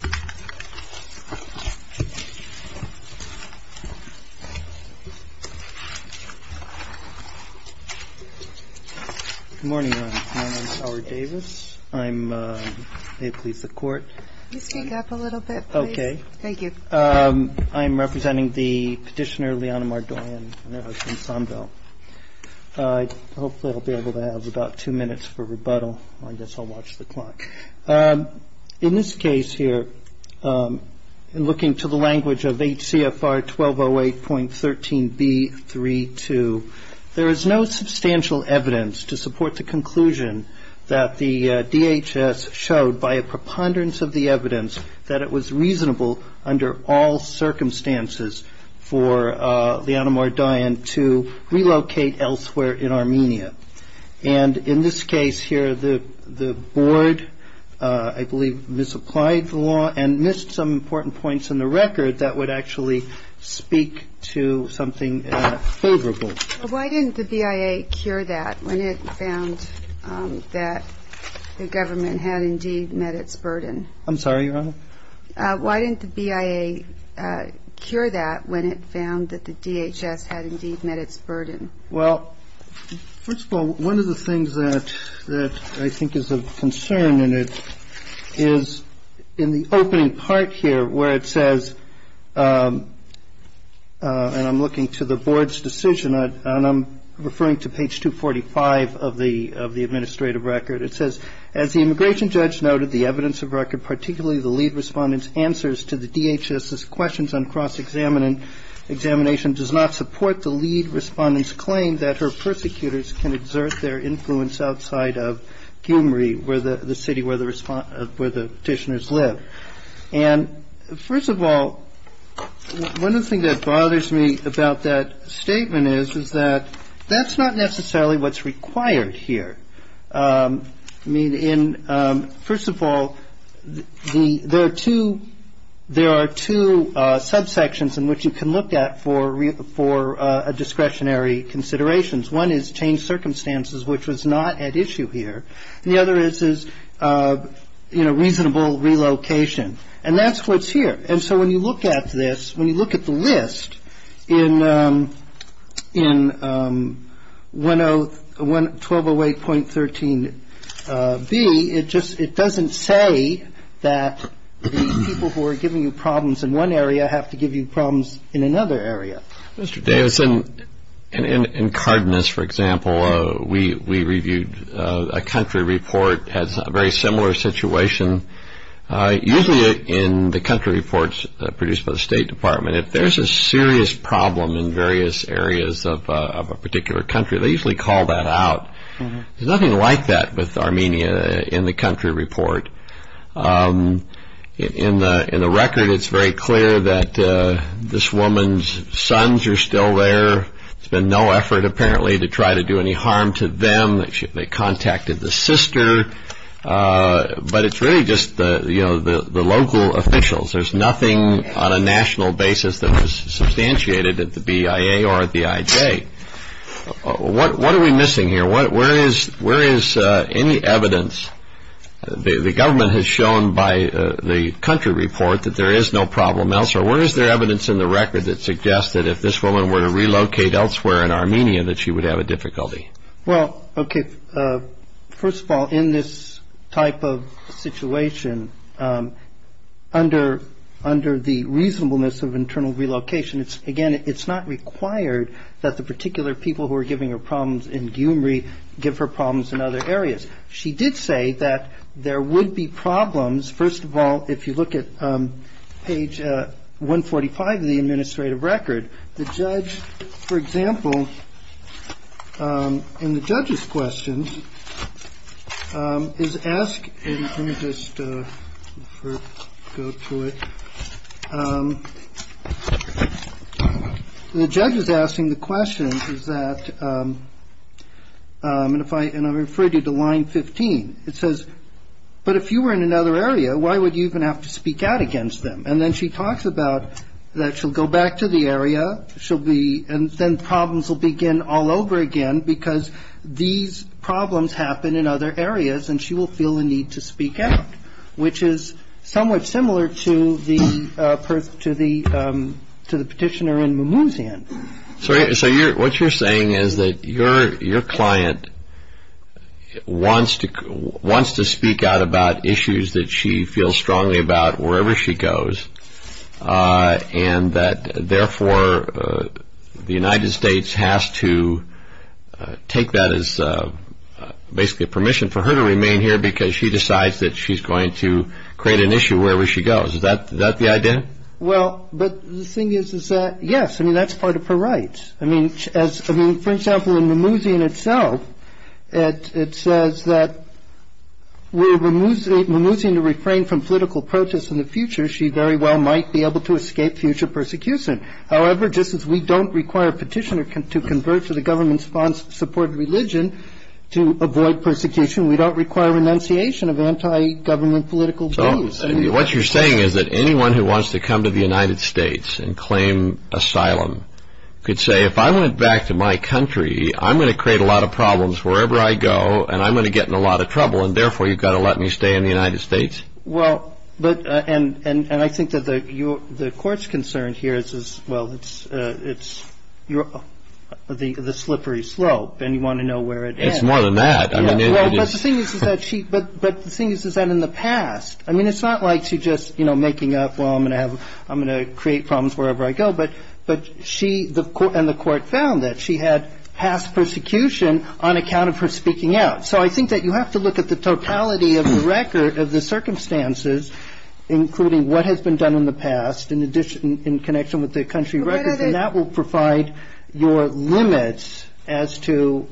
Good morning. My name is Howard Davis. I'm a police of court. Can you speak up a little bit, please? Okay. Thank you. I'm representing the petitioner, Liana Mardoyan, and her husband, Sonville. Hopefully, I'll be able to have about two minutes for rebuttal. I guess I'll watch the clock. In this case here, looking to the language of HCFR 1208.13b.3.2, there is no substantial evidence to support the conclusion that the DHS showed by a preponderance of the evidence that it was reasonable under all circumstances for Liana Mardoyan to relocate elsewhere in Armenia. And in this case here, the board, I believe, misapplied the law and missed some important points in the record that would actually speak to something favorable. Why didn't the BIA cure that when it found that the government had indeed met its burden? I'm sorry, Your Honor? Why didn't the BIA cure that when it found that the DHS had indeed met its burden? Well, first of all, one of the things that I think is of concern in it is in the opening part here, where it says, and I'm looking to the board's decision, and I'm referring to page 245 of the administrative record. It says, as the immigration judge noted, the evidence of record, particularly the lead respondent's answers to the DHS's questions on cross-examination, does not support the lead respondent's claim that her persecutors can exert their influence outside of Gyumri, the city where the petitioners live. And first of all, one of the things that bothers me about that statement is that that's not necessarily what's required here. I mean, first of all, there are two subsections in which you can look at for discretionary considerations. One is changed circumstances, which was not at issue here, and the other is, you know, reasonable relocation. And that's what's here. And so when you look at this, when you look at the list in 1208.13B, it doesn't say that the people who are giving you problems in one area have to give you problems in another area. Mr. Davis, in Cardenas, for example, we reviewed a country report as a very similar situation. Usually in the country reports produced by the State Department, if there's a serious problem in various areas of a particular country, they usually call that out. There's nothing like that with Armenia in the country report. In the record, it's very clear that this woman's sons are still there. There's been no effort, apparently, to try to do any harm to them. They contacted the sister. But it's really just the local officials. There's nothing on a national basis that was substantiated at the BIA or at the IJ. What are we missing here? Where is any evidence? The government has shown by the country report that there is no problem elsewhere. Where is there evidence in the record that suggests that if this woman were to relocate elsewhere in Armenia, that she would have a difficulty? Well, okay, first of all, in this type of situation, under the reasonableness of internal relocation, again, it's not required that the particular people who are giving her problems in Gyumri give her problems in other areas. She did say that there would be problems, first of all, if you look at page 145 of the administrative record. The judge, for example, in the judge's question, is asking the question, and I'll refer you to line 15. It says, but if you were in another area, why would you even have to speak out against them? And then she talks about that she'll go back to the area, and then problems will begin all over again, because these problems happen in other areas, and she will feel the need to speak out, which is somewhat similar to the petitioner in Mamoun's hand. So what you're saying is that your client wants to speak out about issues that she feels strongly about wherever she goes, and that therefore the United States has to take that as basically permission for her to remain here because she decides that she's going to create an issue wherever she goes. Is that the idea? Well, but the thing is, is that, yes, I mean, that's part of her rights. I mean, for example, in Mamounian itself, it says that were Mamounian to refrain from political protests in the future, she very well might be able to escape future persecution. However, just as we don't require a petitioner to convert to the government-supported religion to avoid persecution, we don't require renunciation of anti-government political views. What you're saying is that anyone who wants to come to the United States and claim asylum could say, if I went back to my country, I'm going to create a lot of problems wherever I go, and I'm going to get in a lot of trouble, and therefore you've got to let me stay in the United States? Well, and I think that the Court's concern here is, well, it's the slippery slope, and you want to know where it ends. It's more than that. But the thing is, is that in the past, I mean, it's not like she's just making up, well, I'm going to create problems wherever I go. But she and the Court found that she had past persecution on account of her speaking out. So I think that you have to look at the totality of the record of the circumstances, including what has been done in the past in connection with the country records, and that will provide your limits as to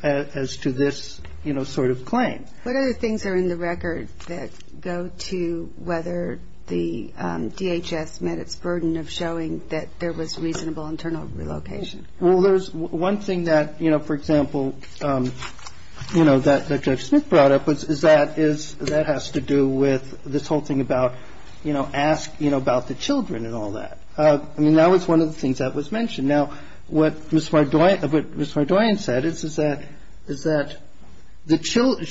this sort of claim. What other things are in the record that go to whether the DHS met its burden of showing that there was reasonable internal relocation? Well, there's one thing that, you know, for example, you know, that Judge Smith brought up, is that that has to do with this whole thing about, you know, ask, you know, about the children and all that. I mean, that was one of the things that was mentioned. Now, what Ms. Mardoyan said is that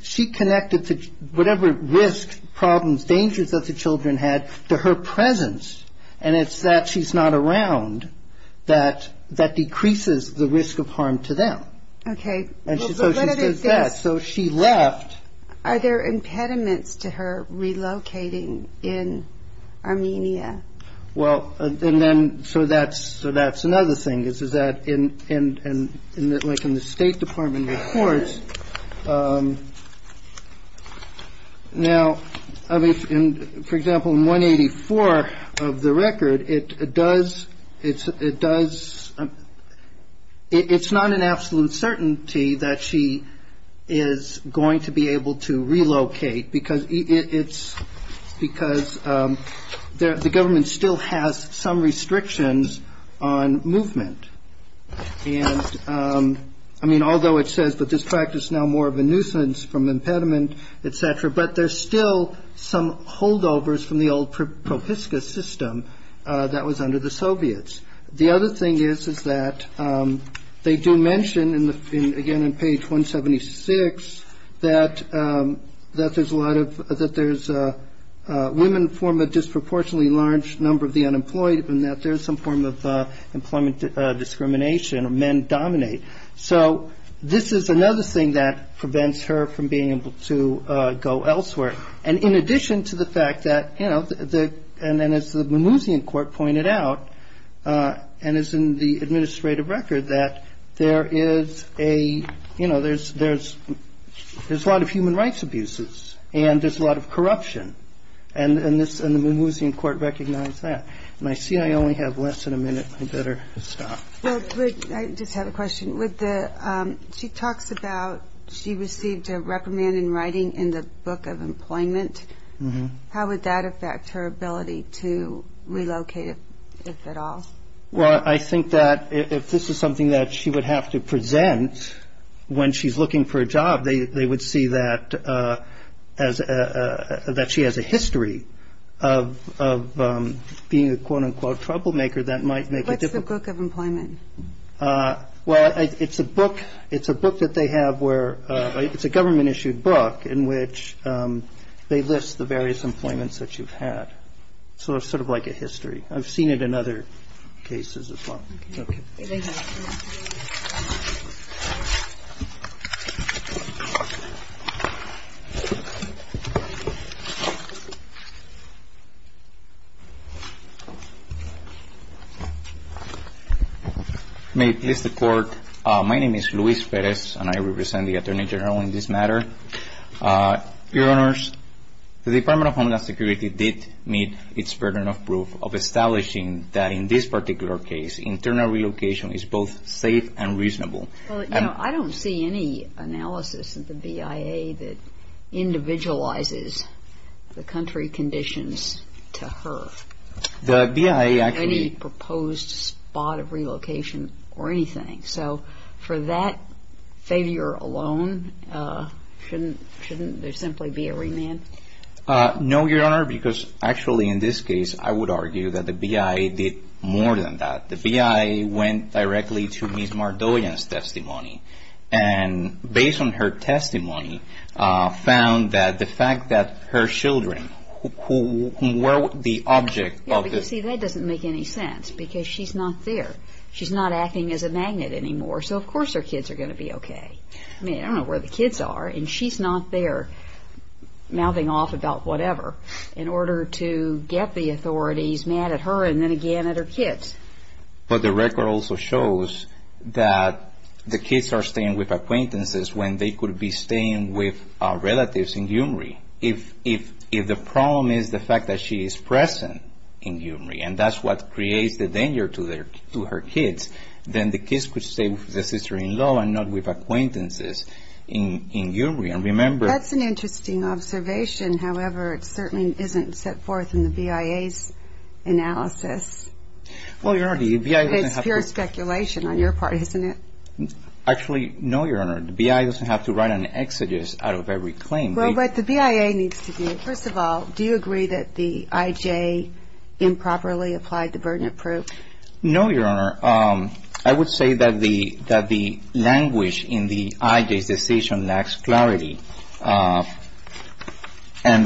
she connected whatever risk, problems, dangers that the children had to her presence, and it's that she's not around that decreases the risk of harm to them. Okay. And so she says that. So she left. Are there impediments to her relocating in Armenia? Well, and then so that's another thing, is that in the State Department reports. Now, I mean, for example, in 184 of the record, it does – it's not an absolute certainty that she is going to be able to relocate because it's – because the government still has some restrictions on movement. And, I mean, although it says that this practice is now more of a nuisance from impediment, et cetera, but there's still some holdovers from the old Propiska system that was under the Soviets. The other thing is, is that they do mention, again, on page 176, that there's a lot of – that there's women form a disproportionately large number of the unemployed and that there's some form of employment discrimination or men dominate. So this is another thing that prevents her from being able to go elsewhere. And in addition to the fact that, you know, and as the Mimousian Court pointed out, and as in the administrative record, that there is a – you know, there's a lot of human rights abuses and there's a lot of corruption. And the Mimousian Court recognized that. And I see I only have less than a minute. I better stop. Well, I just have a question. She talks about she received a reprimand in writing in the Book of Employment. How would that affect her ability to relocate, if at all? Well, I think that if this is something that she would have to present when she's looking for a job, they would see that she has a history of being a, quote, unquote, troublemaker that might make it difficult. What's the Book of Employment? Well, it's a book that they have where – it's a government-issued book in which they list the various employments that you've had. So it's sort of like a history. I've seen it in other cases as well. Okay. May it please the Court, my name is Luis Perez, and I represent the Attorney General in this matter. Your Honors, the Department of Homeland Security did meet its burden of proof of establishing that in this particular case, internal relocation is both safe and reasonable. Well, you know, I don't see any analysis of the BIA that individualizes the country conditions to her. The BIA actually – So for that failure alone, shouldn't there simply be a remand? No, Your Honor, because actually in this case, I would argue that the BIA did more than that. The BIA went directly to Ms. Mardoian's testimony. And based on her testimony, found that the fact that her children, who were the object of the – So of course her kids are going to be okay. I mean, I don't know where the kids are, and she's not there mouthing off about whatever in order to get the authorities mad at her and then again at her kids. But the record also shows that the kids are staying with acquaintances when they could be staying with relatives in Gyumri. If the problem is the fact that she is present in Gyumri, and that's what creates the danger to her kids, then the kids could stay with the sister-in-law and not with acquaintances in Gyumri. And remember – That's an interesting observation. However, it certainly isn't set forth in the BIA's analysis. Well, Your Honor, the BIA – It's pure speculation on your part, isn't it? Actually, no, Your Honor. The BIA doesn't have to write an exegesis out of every claim. Well, what the BIA needs to do – First of all, do you agree that the IJ improperly applied the burden of proof? No, Your Honor. I would say that the language in the IJ's decision lacks clarity. And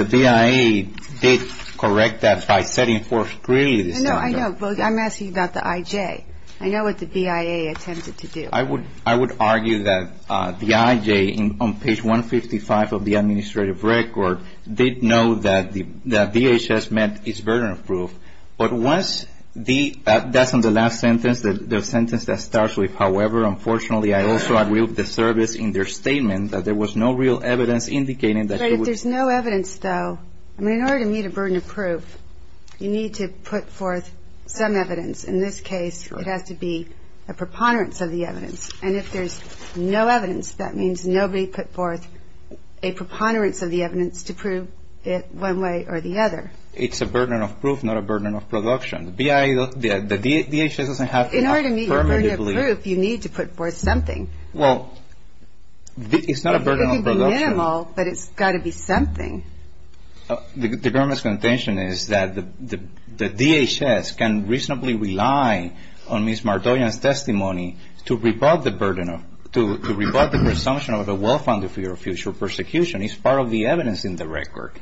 the BIA did correct that by setting forth clearly the standard. No, I know. I'm asking about the IJ. I know what the BIA attempted to do. I would argue that the IJ, on page 155 of the administrative record, did know that DHS met its burden of proof. But once the – that's on the last sentence, the sentence that starts with, however, unfortunately, I also agree with the service in their statement that there was no real evidence indicating that she was – But if there's no evidence, though, I mean, in order to meet a burden of proof, you need to put forth some evidence. In this case, it has to be a preponderance of the evidence. And if there's no evidence, that means nobody put forth a preponderance of the evidence to prove it one way or the other. It's a burden of proof, not a burden of production. The DHS doesn't have to affirmatively – In order to meet your burden of proof, you need to put forth something. Well, it's not a burden of production. It could be minimal, but it's got to be something. The government's contention is that the DHS can reasonably rely on Ms. Martoyan's testimony to rebut the burden of – to rebut the presumption of the well-founded fear of future persecution. It's part of the evidence in the record.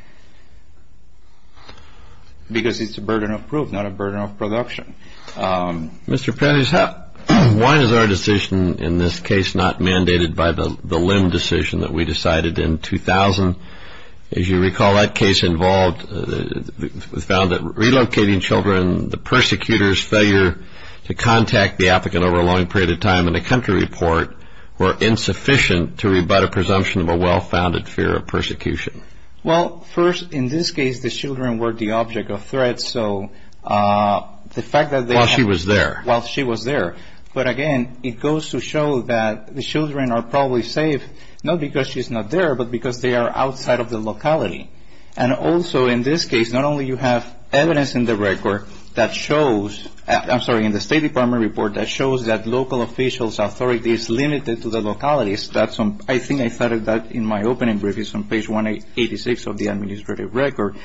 Because it's a burden of proof, not a burden of production. Mr. Perez, why is our decision in this case not mandated by the Lim decision that we decided in 2000? As you recall, that case involved – was found that relocating children, the persecutor's failure to contact the applicant over a long period of time, and the country report were insufficient to rebut a presumption of a well-founded fear of persecution. Well, first, in this case, the children were the object of threat, so the fact that they – While she was there. While she was there. But again, it goes to show that the children are probably safe, not because she's not there, but because they are outside of the locality. And also, in this case, not only you have evidence in the record that shows – I'm sorry, in the State Department report that shows that local officials' authority is limited to the localities. That's on – I think I cited that in my opening brief. It's on page 186 of the administrative record.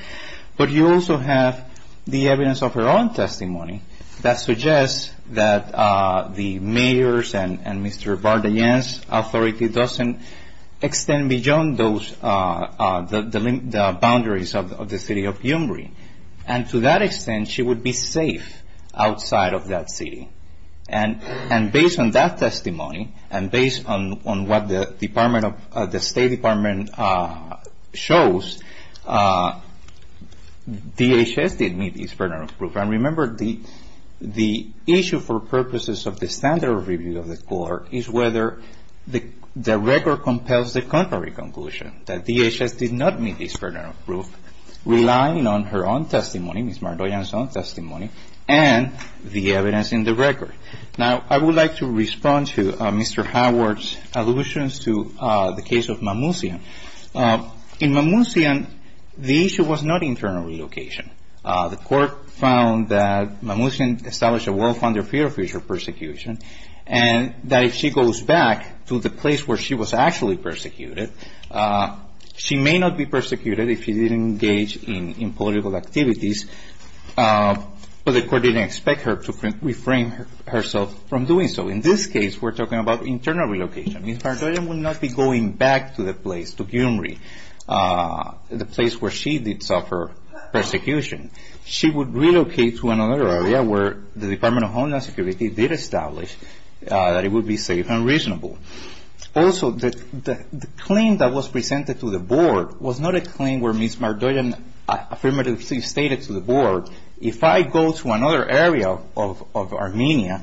But you also have the evidence of her own testimony that suggests that the mayor's and Mr. Vardayan's authority doesn't extend beyond those – the boundaries of the city of Umbri. And to that extent, she would be safe outside of that city. And based on that testimony, and based on what the Department of – the State Department shows, DHS did meet this burden of proof. And remember, the issue for purposes of the standard review of the court is whether the record compels the contrary conclusion, that DHS did not meet this burden of proof, relying on her own testimony, Ms. Vardayan's own testimony, and the evidence in the record. Now, I would like to respond to Mr. Howard's allusions to the case of Mammuzian. In Mammuzian, the issue was not internal relocation. The court found that Mammuzian established a well-founded fear of future persecution, and that if she goes back to the place where she was actually persecuted, she may not be persecuted if she didn't engage in political activities. But the court didn't expect her to reframe herself from doing so. In this case, we're talking about internal relocation. Ms. Vardayan would not be going back to the place, to Gyumri, the place where she did suffer persecution. She would relocate to another area where the Department of Homeland Security did establish that it would be safe and reasonable. Also, the claim that was presented to the board was not a claim where Ms. Vardayan affirmatively stated to the board, if I go to another area of Armenia,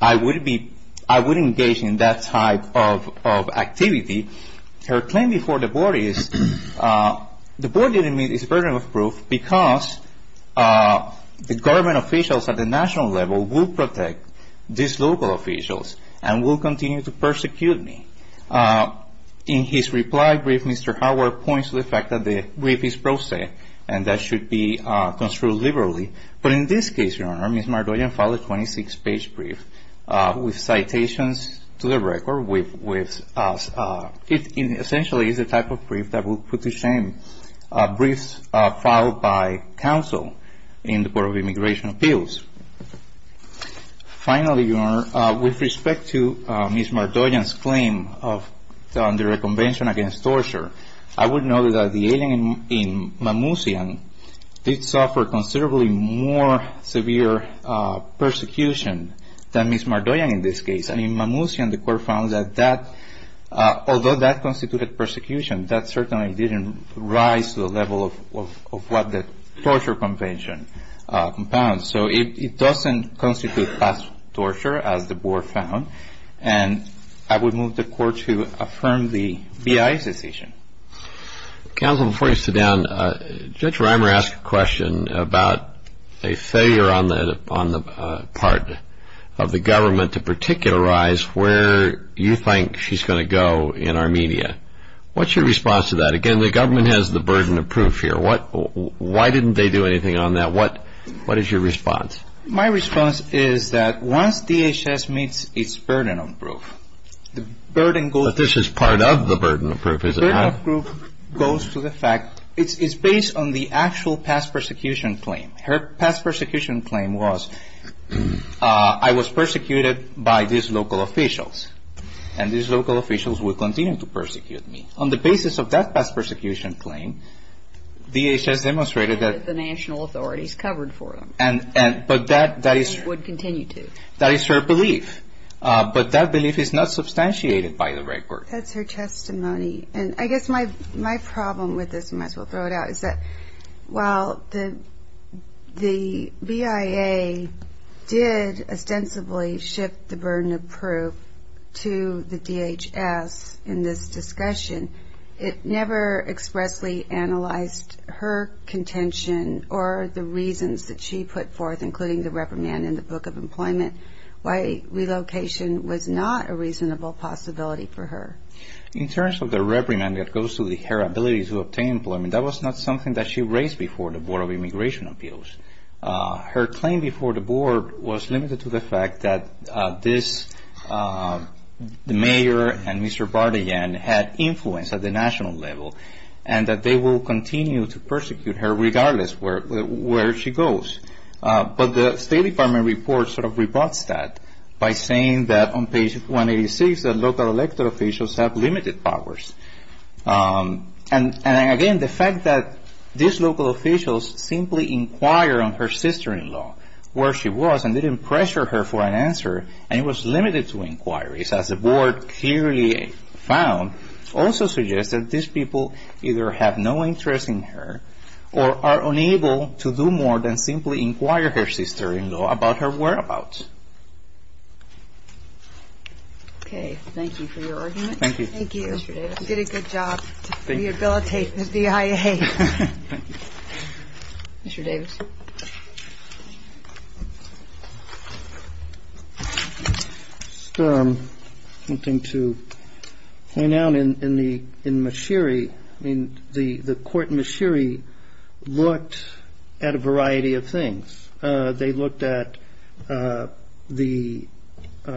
I would engage in that type of activity. Her claim before the board is the board didn't meet its burden of proof because the government officials at the national level will protect these local officials and will continue to persecute me. In his reply brief, Mr. Howard points to the fact that the brief is pro se, and that should be construed liberally. But in this case, Your Honor, Ms. Vardayan filed a 26-page brief with citations to the record with us. It essentially is the type of brief that would put to shame briefs filed by counsel in the Board of Immigration Appeals. Finally, Your Honor, with respect to Ms. Vardayan's claim of the Convention Against Torture, I would note that the alien in Mammouzian did suffer considerably more severe persecution than Ms. Vardayan in this case. And in Mammouzian, the court found that although that constituted persecution, that certainly didn't rise to the level of what the Torture Convention compounds. So it doesn't constitute past torture, as the board found. And I would move the court to affirm the BIA's decision. Counsel, before you sit down, Judge Reimer asked a question about a failure on the part of the government to particularize where you think she's going to go in Armenia. What's your response to that? Again, the government has the burden of proof here. Why didn't they do anything on that? What is your response? My response is that once DHS meets its burden of proof, the burden goes to the fact. But this is part of the burden of proof, is it not? The burden of proof goes to the fact it's based on the actual past persecution claim. Her past persecution claim was I was persecuted by these local officials, and these local officials will continue to persecute me. On the basis of that past persecution claim, DHS demonstrated that... The national authorities covered for them. But that is... And would continue to. That is her belief. But that belief is not substantiated by the record. That's her testimony. And I guess my problem with this, and I might as well throw it out, is that while the BIA did ostensibly shift the burden of proof to the DHS in this discussion, it never expressly analyzed her contention or the reasons that she put forth, including the reprimand in the Book of Employment, why relocation was not a reasonable possibility for her. In terms of the reprimand that goes to her ability to obtain employment, that was not something that she raised before the Board of Immigration Appeals. Her claim before the Board was limited to the fact that this, the mayor and Mr. Bardigan, had influence at the national level, and that they will continue to persecute her regardless where she goes. But the State Department report sort of rebuts that by saying that on page 186, that local elected officials have limited powers. And again, the fact that these local officials simply inquire on her sister-in-law, where she was, and didn't pressure her for an answer, and it was limited to inquiries, as the Board clearly found, also suggests that these people either have no interest in her or are unable to do more than simply inquire her sister-in-law about her whereabouts. Okay. Thank you for your argument. Thank you. Thank you, Mr. Davis. You did a good job to rehabilitate the DIA. Thank you. Mr. Davis. Just one thing to point out. In Mashiri, the court in Mashiri looked at a variety of things. They looked at the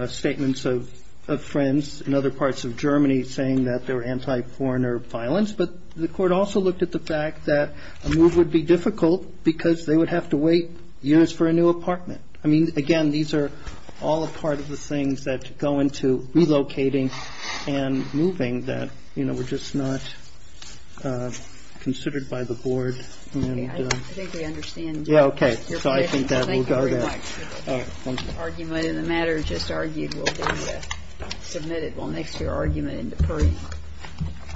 statements of friends in other parts of Germany saying that they were anti-foreigner violence, but the court also looked at the fact that a move would be difficult because they would have to wait years for a new apartment. I mean, again, these are all a part of the things that go into relocating and moving that, you know, were just not considered by the Board. Okay. I think we understand. Yeah. Okay. So I think that will go there. Thank you very much. All right. Thank you. The argument in the matter just argued will be submitted. We'll mix your argument into proof.